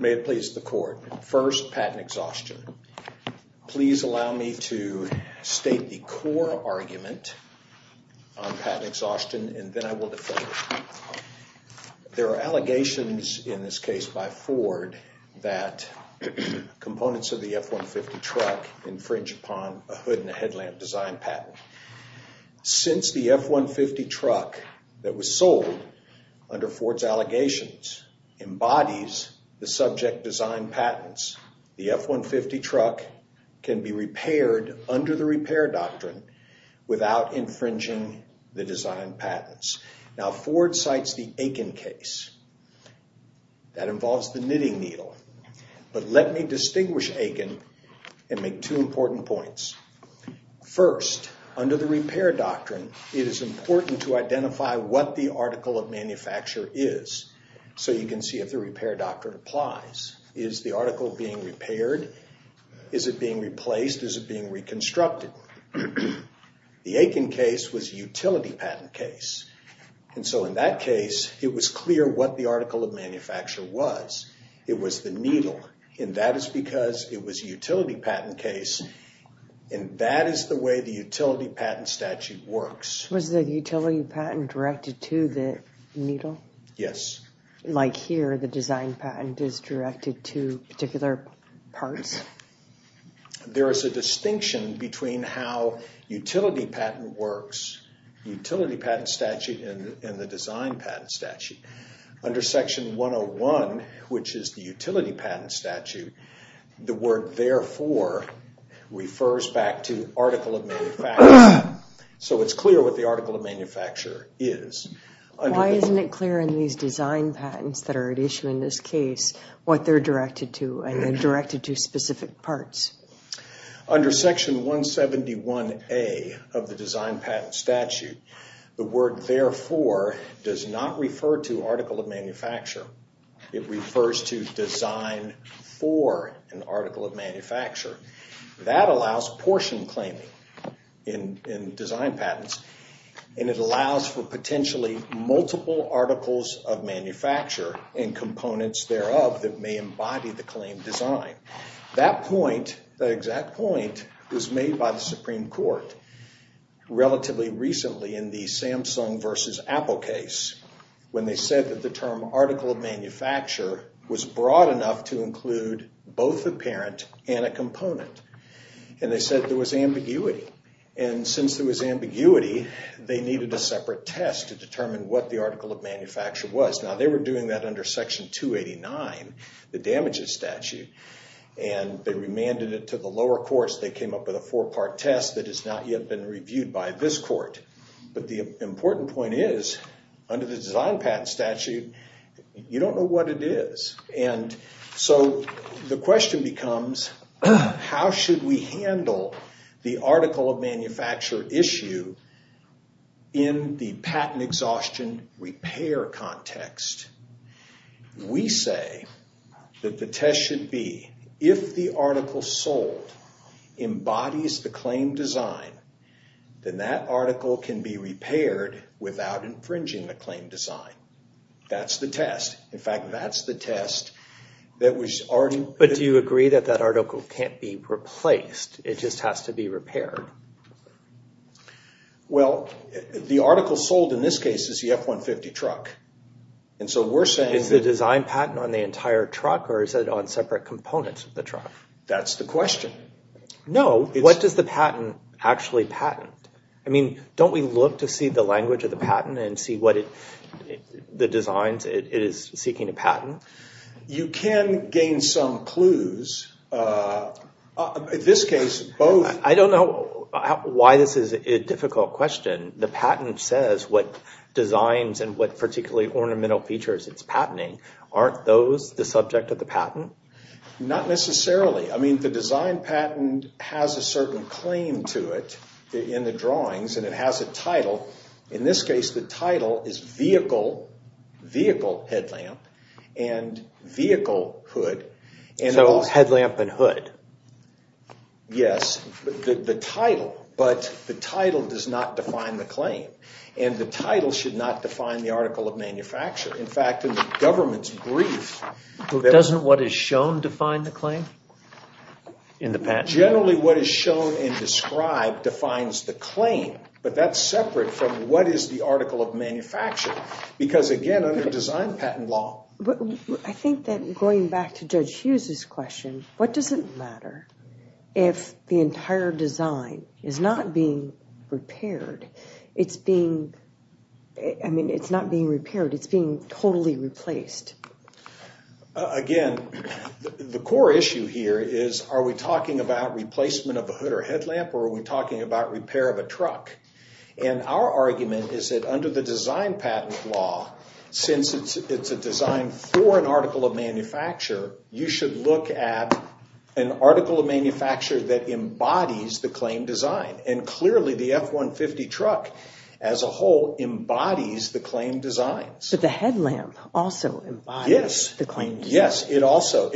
May it please the court. First, patent exhaustion. Please allow me to state the core argument on patent exhaustion and then I will defer. There are allegations in this case by Ford that components of the F-150 truck infringe upon a hood and headlamp design patent. Since the F-150 truck that was sold under Ford's allegations embodies the subject design patents, the F-150 truck can be repaired under the repair doctrine without infringing the design deal. But let me distinguish Aiken and make two important points. First, under the repair doctrine, it is important to identify what the article of manufacture is. So you can see if the repair doctrine applies. Is the article being repaired? Is it being replaced? Is it being reconstructed? The Aiken case was a utility patent case and so in that case it was clear what the article of manufacture was. It was the needle and that is because it was a utility patent case and that is the way the utility patent statute works. Was the utility patent directed to the needle? Yes. Like here, the design patent is directed to particular parts? There is a distinction between how utility patent works, utility and design patent statute. Under section 101, which is the utility patent statute, the word therefore refers back to article of manufacture. So it is clear what the article of manufacture is. Why isn't it clear in these design patents that are at issue in this case what they are directed to and they are directed to specific parts? Under section 171A of the statute, it does not refer to article of manufacture. It refers to design for an article of manufacture. That allows portion claiming in design patents and it allows for potentially multiple articles of manufacture and components thereof that may embody the claim design. That point, the exact point, was made by the Supreme Court relatively recently in the Samsung versus Apple case when they said that the term article of manufacture was broad enough to include both the parent and a component. They said there was ambiguity and since there was ambiguity, they needed a separate test to determine what the article of manufacture was. Now they were doing that under section 289, the damages statute, and they remanded it to the lower courts. They came up with a four-part test that has not yet been reviewed by this court. But the important point is, under the design patent statute, you don't know what it is. So the question becomes, how should we handle the article of manufacture issue in the patent exhaustion repair context? We say that the test should be if the article sold embodies the claim design, then that article can be repaired without infringing the claim design. That's the test. In fact, that's the test that was already... But do you agree that that article can't be replaced? It just has to be repaired? Well, the article sold in this case is the F-150 truck. And so we're saying... Is the design patent on the entire truck or is it on separate components of the truck? That's the question. No. What does the patent actually patent? I mean, don't we look to see the language of the patent and see what the designs it is seeking to patent? You can gain some clues. In this case, both... I don't know why this is a difficult question. The patent says what designs and what particularly ornamental features it's patenting. Aren't those the subject of the patent? Not necessarily. I mean, the design patent has a certain claim to it in the drawings, and it has a title. In this case, the title is vehicle, vehicle headlamp and vehicle hood. So headlamp and hood. Yes, the title. But the title does not define the claim. And the title should not define the article of manufacture. In fact, in the government's brief... Doesn't what is shown define the claim in the patent? Generally, what is shown and described defines the claim, but that's separate from what is the article of manufacture. Because again, under design patent law... I think that going back to Judge Hughes' question, what does it matter if the entire design is not being repaired? It's being... I mean, it's not being repaired. It's being totally replaced. Again, the core issue here is, are we talking about replacement of a hood or headlamp, or are we talking about repair of a truck? And our argument is that under the design patent law, since it's a design for an article of manufacture, you should look at an article of manufacture that embodies the claim design. And clearly, the F-150 truck as a whole embodies the claim designs. But the headlamp also embodies the claim design. Yes, it also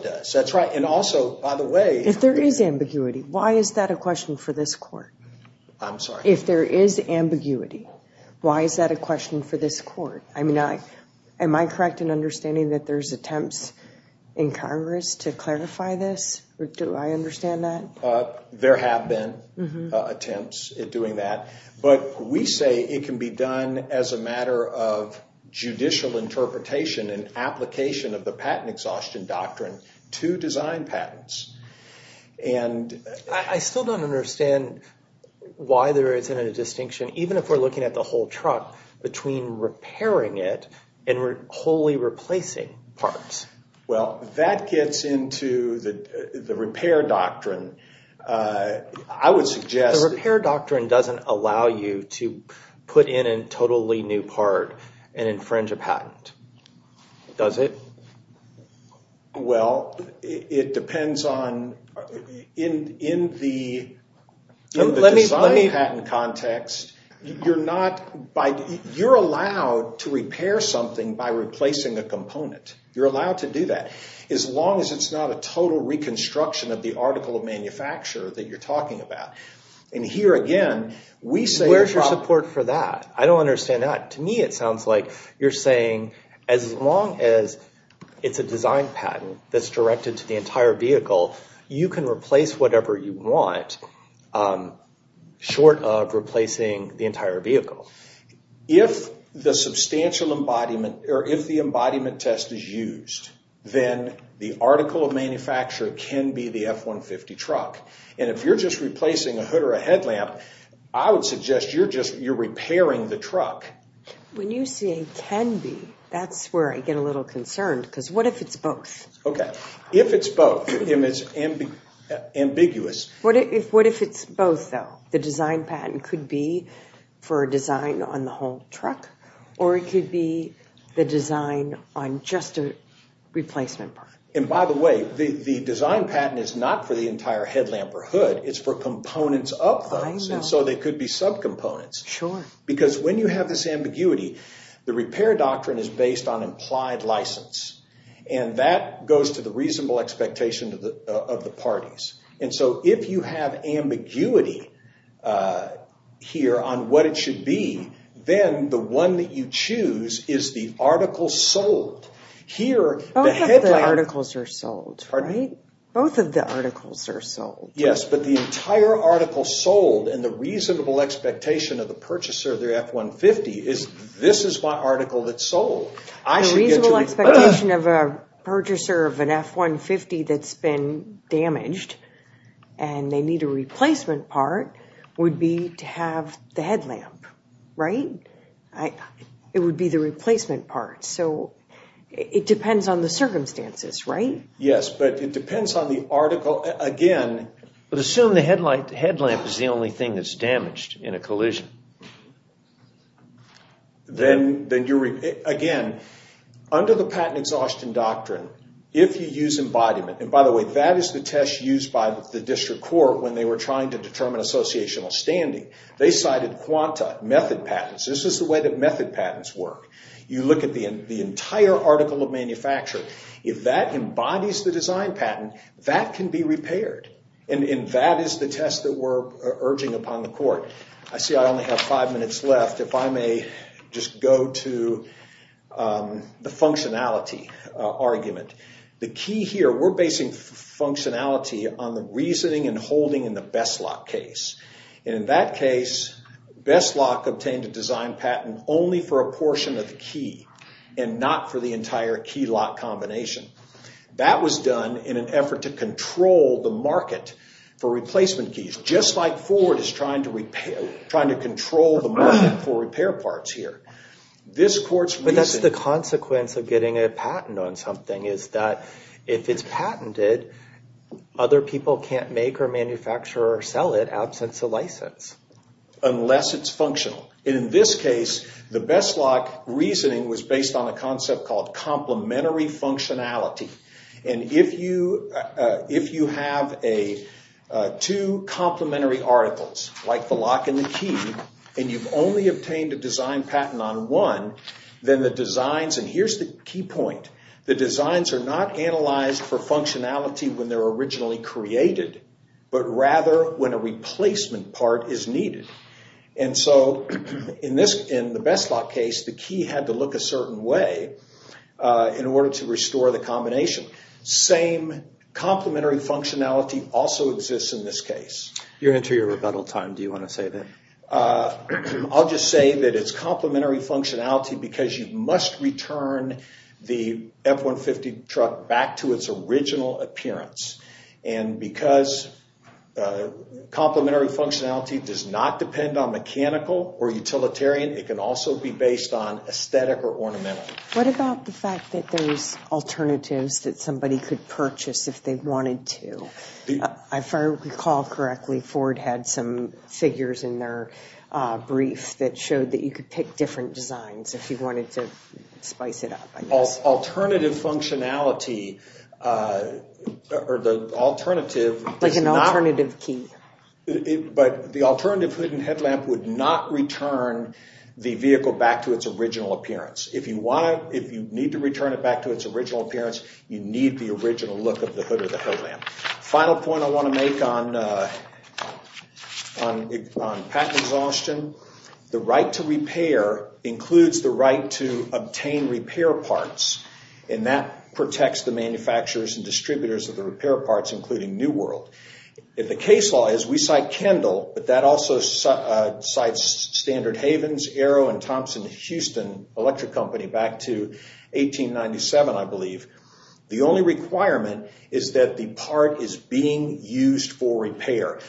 does. That's right. And also, by the way... If there is ambiguity, why is that a question for this court? I'm sorry? If there is ambiguity, why is that a question for this court? I mean, am I correct in understanding that there's attempts in Congress to clarify this, or do I understand that? There have been attempts at doing that, but we say it can be done as a matter of judicial interpretation and application of the patent exhaustion doctrine to design patents. I still don't understand why there isn't a distinction, even if we're looking at the whole truck, between repairing it and wholly replacing parts. Well, that gets into the repair doctrine. I would suggest... The repair doctrine doesn't allow you to put in a totally new part and infringe a patent, does it? Well, it depends on... In the design patent context, you're allowed to repair something by replacing a component. You're allowed to do that, as long as it's not a total reconstruction of the article of manufacture that you're talking about. And here, again, we say... Where's your support for that? I don't understand that. To me, it sounds like you're saying, as long as it's a design patent that's directed to the entire vehicle, you can replace whatever you want, short of replacing the entire vehicle. If the substantial embodiment... Or if the embodiment test is used, then the article of manufacture can be the F-150 truck. And if you're just replacing a hood or a headlamp, I would suggest you're just... You're repairing the truck. When you say, can be, that's where I get a little concerned, because what if it's both? Okay. If it's both, and it's ambiguous... What if it's both, though? The design patent could be for a design on the whole truck, or it could be the design on just a replacement part. And by the way, the design patent is not for the entire headlamp or hood. It's for components of those, and so they could be subcomponents. Sure. Because when you have this ambiguity, the repair doctrine is based on implied license, and that goes to the reasonable expectation of the parties. And so if you have ambiguity here on what it should be, then the one that you choose is the article sold. Here the headlamp... Both of the articles are sold, right? Both of the articles are sold. Yes, but the entire article sold, and the reasonable expectation of the purchaser of their F-150 is, this is my article that's The expectation of a purchaser of an F-150 that's been damaged, and they need a replacement part, would be to have the headlamp, right? It would be the replacement part, so it depends on the circumstances, right? Yes, but it depends on the article, again... But assume the headlight, the headlamp is the only thing that's damaged in a collision. Then you're... Again, under the patent exhaustion doctrine, if you use embodiment, and by the way, that is the test used by the district court when they were trying to determine associational standing. They cited quanta, method patents. This is the way that method patents work. You look at the entire article of manufacture. If that embodies the design patent, that can be repaired, and that is the test that we're urging upon the court. I see I only have five minutes left. If I may just go to the functionality argument. The key here, we're basing functionality on the reasoning and holding in the Besslock case. In that case, Besslock obtained a design patent only for a portion of the key, and not for the entire key lock combination. That was done in an effort to control the market for replacement keys, just like Ford is trying to control the market for repair parts here. This court's reasoning... But that's the consequence of getting a patent on something, is that if it's patented, other people can't make or manufacture or sell it, absence of license. Unless it's functional. In this case, the Besslock reasoning was based on a concept called complementary functionality. If you have two complementary articles, like the lock and the key, and you've only obtained a design patent on one, then the designs... Here's the key point. The designs are not analyzed for functionality when they're originally created, but rather when a replacement part is needed. In the Besslock case, the key had to look a certain way in order to restore the combination. Same complementary functionality also exists in this case. You're entering a rebuttal time. Do you want to say that? I'll just say that it's complementary functionality because you must return the F-150 truck back to its original appearance. Because complementary functionality does not depend on mechanical or utilitarian, it can also be based on aesthetic or ornamental. What about the fact that there's alternatives that somebody could purchase if they wanted to? If I recall correctly, Ford had some figures in their brief that showed that you could pick different designs if you wanted to spice it up, I guess. Alternative functionality, or the alternative... Like an alternative key. But the alternative hood and headlamp would not return the vehicle back to its original appearance. If you want to, if you need to return it back to its original appearance, you need the original look of the hood or the headlamp. Final point I want to make on patent exhaustion. The right to repair includes the right to use, and that protects the manufacturers and distributors of the repair parts, including New World. If the case law is we cite Kendall, but that also cites Standard Havens, Arrow, and Thompson Houston Electric Company back to 1897, I believe. The only requirement is that the part is being used for repair.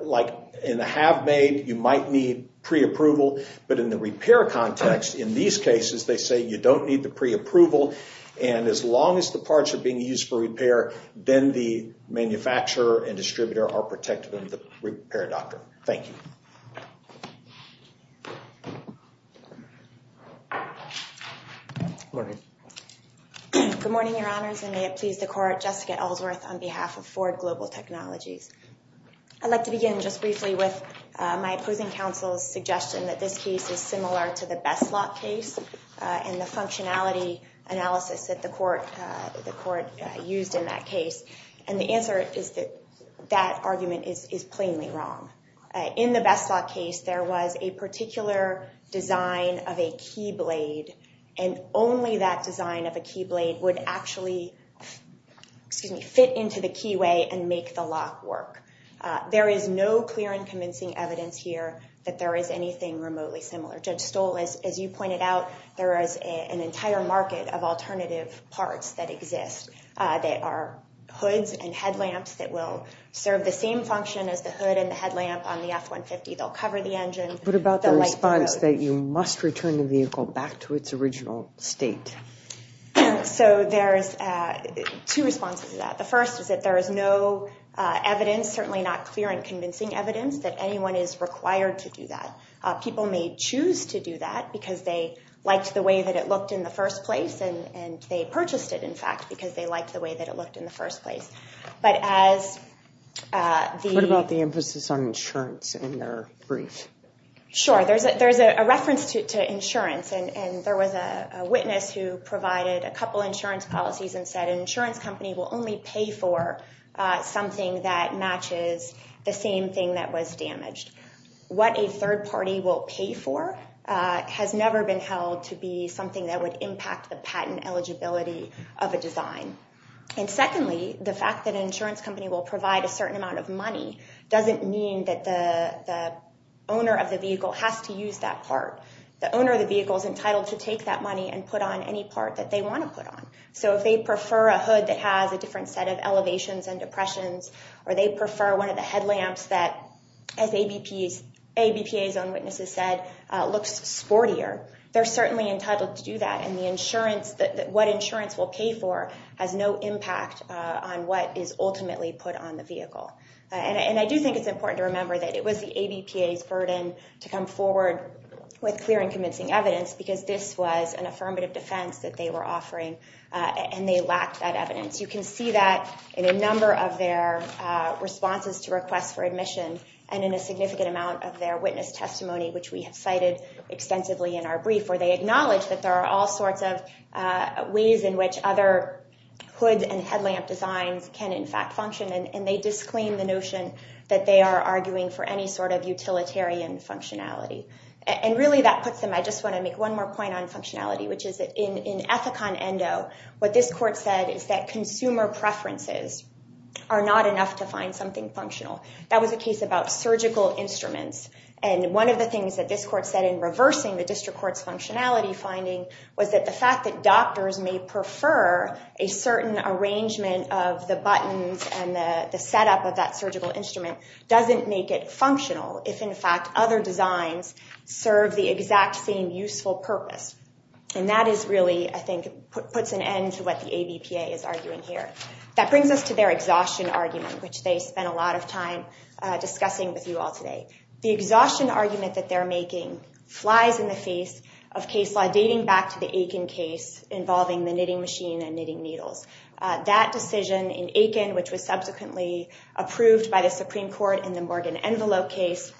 Like in the have-made, you might need pre-approval, but in the repair context, in these cases, they say you don't need the pre-approval. And as long as the parts are being used for repair, then the manufacturer and distributor are protected under the repair doctrine. Thank you. Good morning, Your Honors, and may it please the Court, Jessica Ellsworth on behalf of Ford Global Technologies. I'd like to begin just briefly with my opposing counsel's suggestion that this case is similar to the Besslock case and the functionality analysis that the Court used in that case. And the answer is that that argument is plainly wrong. In the Besslock case, there was a particular design of a key blade, and only that design of a key blade would actually fit into the keyway and make the lock work. There is no clear and convincing evidence here that there is anything remotely similar. Judge Stoll, as you pointed out, there is an entire market of alternative parts that exist that are hoods and headlamps that will serve the same function as the hood and the headlamp on the F-150. They'll cover the engine. What about the response that you must return the vehicle back to its original state? So there's two responses to that. The first is that there is no evidence, certainly not clear and convincing evidence, that anyone is required to do that. People may choose to do that because they liked the way that it looked in the first place, and they purchased it, in fact, because they liked the way that it looked in the first place. But as the— What about the emphasis on insurance in their brief? Sure. There's a reference to insurance, and there was a witness who provided a couple insurance policies and said an insurance company will only pay for something that matches the same thing that was damaged. What a third party will pay for has never been held to be something that would impact the patent eligibility of a design. And secondly, the fact that an insurance company will provide a certain amount of money doesn't mean that the owner of the vehicle has to use that part. The owner of the vehicle is entitled to take that money and put on any part that they want to put on. So if they prefer a hood that has a different set of elevations and depressions, or they ABPA's own witnesses said looks sportier, they're certainly entitled to do that. And the insurance—what insurance will pay for has no impact on what is ultimately put on the vehicle. And I do think it's important to remember that it was the ABPA's burden to come forward with clear and convincing evidence because this was an affirmative defense that they were offering, and they lacked that evidence. You can see that in a number of their responses to requests for admission and in a significant amount of their witness testimony, which we have cited extensively in our brief, where they acknowledge that there are all sorts of ways in which other hood and headlamp designs can, in fact, function, and they disclaim the notion that they are arguing for any sort of utilitarian functionality. And really that puts them—I just want to make one more point on functionality, which is that in Ethicon Endo, what this court said is that consumer preferences are not enough to find something functional. That was a case about surgical instruments, and one of the things that this court said in reversing the district court's functionality finding was that the fact that doctors may prefer a certain arrangement of the buttons and the setup of that surgical instrument doesn't make it functional if, in fact, other designs serve the exact same useful purpose. And that is really, I think, puts an end to what the ABPA is arguing here. That brings us to their exhaustion argument, which they spent a lot of time discussing with you all today. The exhaustion argument that they're making flies in the face of case law dating back to the Aiken case involving the knitting machine and knitting needles. That decision in Aiken, which was subsequently approved by the Supreme Court in the Morgan Envelope case,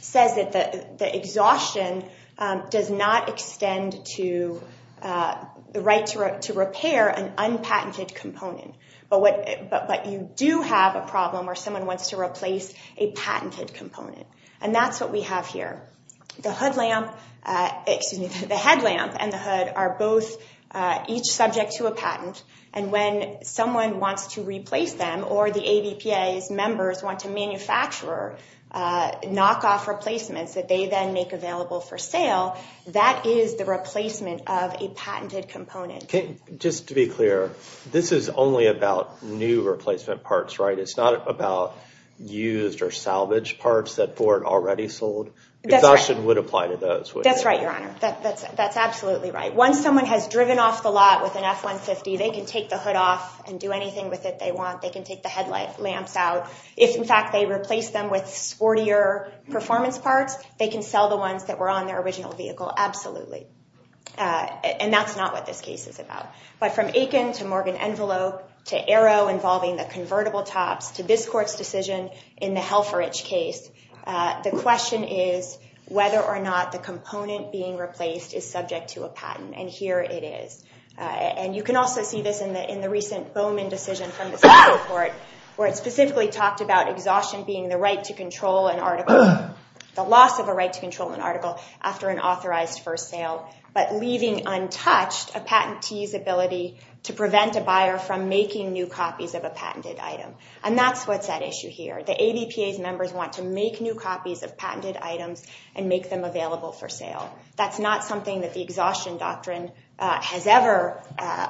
says that the exhaustion does not extend to the right to repair an unpatented component, but you do have a problem where someone wants to replace a patented component, and that's what we have here. The headlamp and the hood are both each subject to a patent, and when someone wants to replace them or the ABPA's members want to manufacture knockoff replacements that they then make available for sale, that is the replacement of a patented component. Just to be clear, this is only about new replacement parts, right? It's not about used or salvaged parts that weren't already sold? Exhaustion would apply to those, would it? That's right, Your Honor. That's absolutely right. Once someone has driven off the lot with an F-150, they can take the hood off and do anything with it they want. They can take the headlamps out. If, in fact, they replace them with sportier performance parts, they can sell the ones that were on their original vehicle, absolutely. And that's not what this case is about. But from Aiken to Morgan Envelope to Aero involving the convertible tops to this Court's decision in the Helferich case, the question is whether or not the component being replaced is subject to a patent, and here it is. And you can also see this in the recent Bowman decision from the Supreme Court, where it specifically talked about exhaustion being the right to control an article, the loss of a right to control an article after an authorized first sale, but leaving untouched a patentee's ability to prevent a buyer from making new copies of a patented item. And that's what's at issue here. The ADPA's members want to make new copies of patented items and make them available for sale. That's not something that the exhaustion doctrine has ever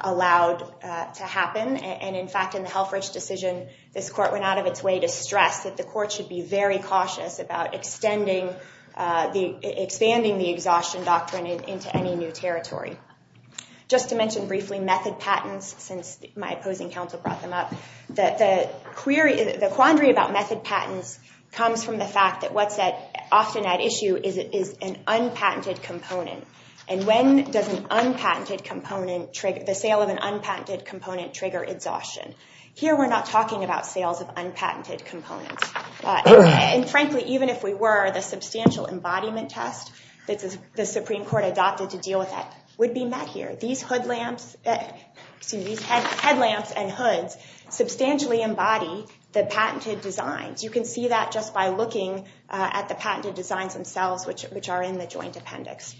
allowed to happen. And in fact, in the Helferich decision, this Court went out of its way to stress that the Court should be very cautious about expanding the exhaustion doctrine into any new territory. Just to mention briefly, method patents, since my opposing counsel brought them up, the quandary about method patents comes from the fact that what's often at issue is an unpatented component. And when does the sale of an unpatented component trigger exhaustion? Here we're not talking about sales of unpatented components. And frankly, even if we were, the substantial embodiment test that the Supreme Court adopted to deal with that would be met here. These headlamps and hoods substantially embody the patented designs. You can see that just by looking at the patented designs themselves, which are in the joint appendix.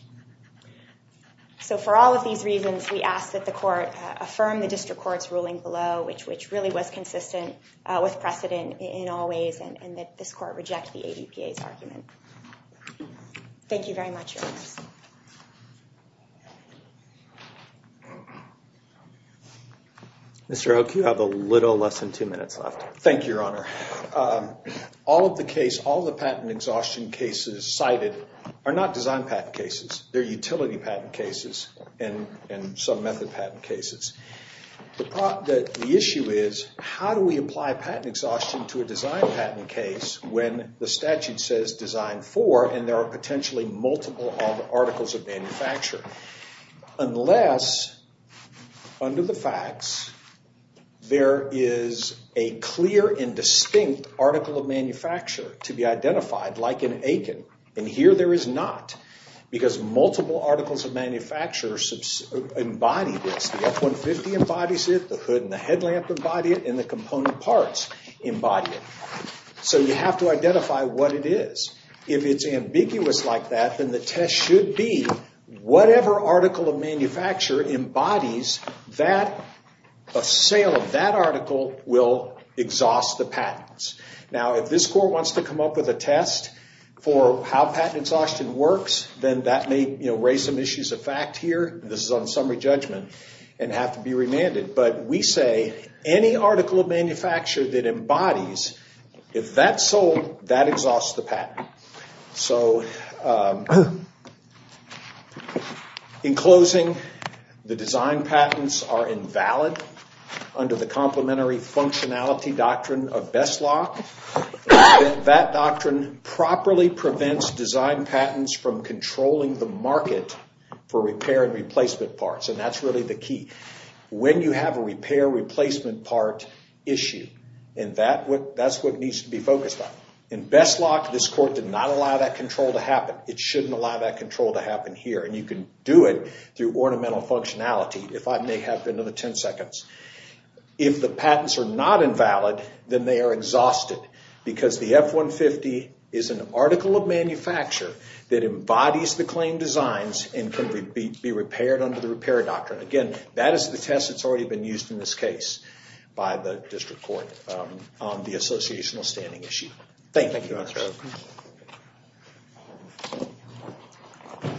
So for all of these reasons, we ask that the Court affirm the district court's ruling below, which really was consistent with precedent in all ways, and that this Court reject the ADPA's argument. Thank you very much, Your Honors. Mr. Oake, you have a little less than two minutes left. Thank you, Your Honor. All of the patent exhaustion cases cited are not design patent cases. They're utility patent cases and some method patent cases. The issue is, how do we apply patent exhaustion to a design patent case when the statute says design for, and there are potentially multiple articles of manufacture? Unless, under the facts, there is a clear and distinct article of manufacture to be identified, like in Aiken. And here there is not, because multiple articles of manufacture embody this. The F-150 embodies it, the hood and the headlamp embody it, and the component parts embody it. So you have to identify what it is. If it's ambiguous like that, then the test should be whatever article of manufacture embodies that, a sale of that article will exhaust the patents. Now, if this Court wants to come up with a test for how patent exhaustion works, then that may raise some issues of fact here. This is on summary judgment and have to be remanded. But we say any article of manufacture that So, in closing, the design patents are invalid under the complementary functionality doctrine of BESLOC. That doctrine properly prevents design patents from controlling the market for repair and replacement parts. And that's really the key. When you have a repair replacement part issue, and that's what needs to be focused on. In BESLOC, this Court did not allow that control to happen. It shouldn't allow that control to happen here. And you can do it through ornamental functionality, if I may have another 10 seconds. If the patents are not invalid, then they are exhausted. Because the F-150 is an article of manufacture that embodies the claim designs and can be repaired under the repair doctrine. Again, that is the test that's already been used in this case by the District Court on the associational standing issue. Thank you very much.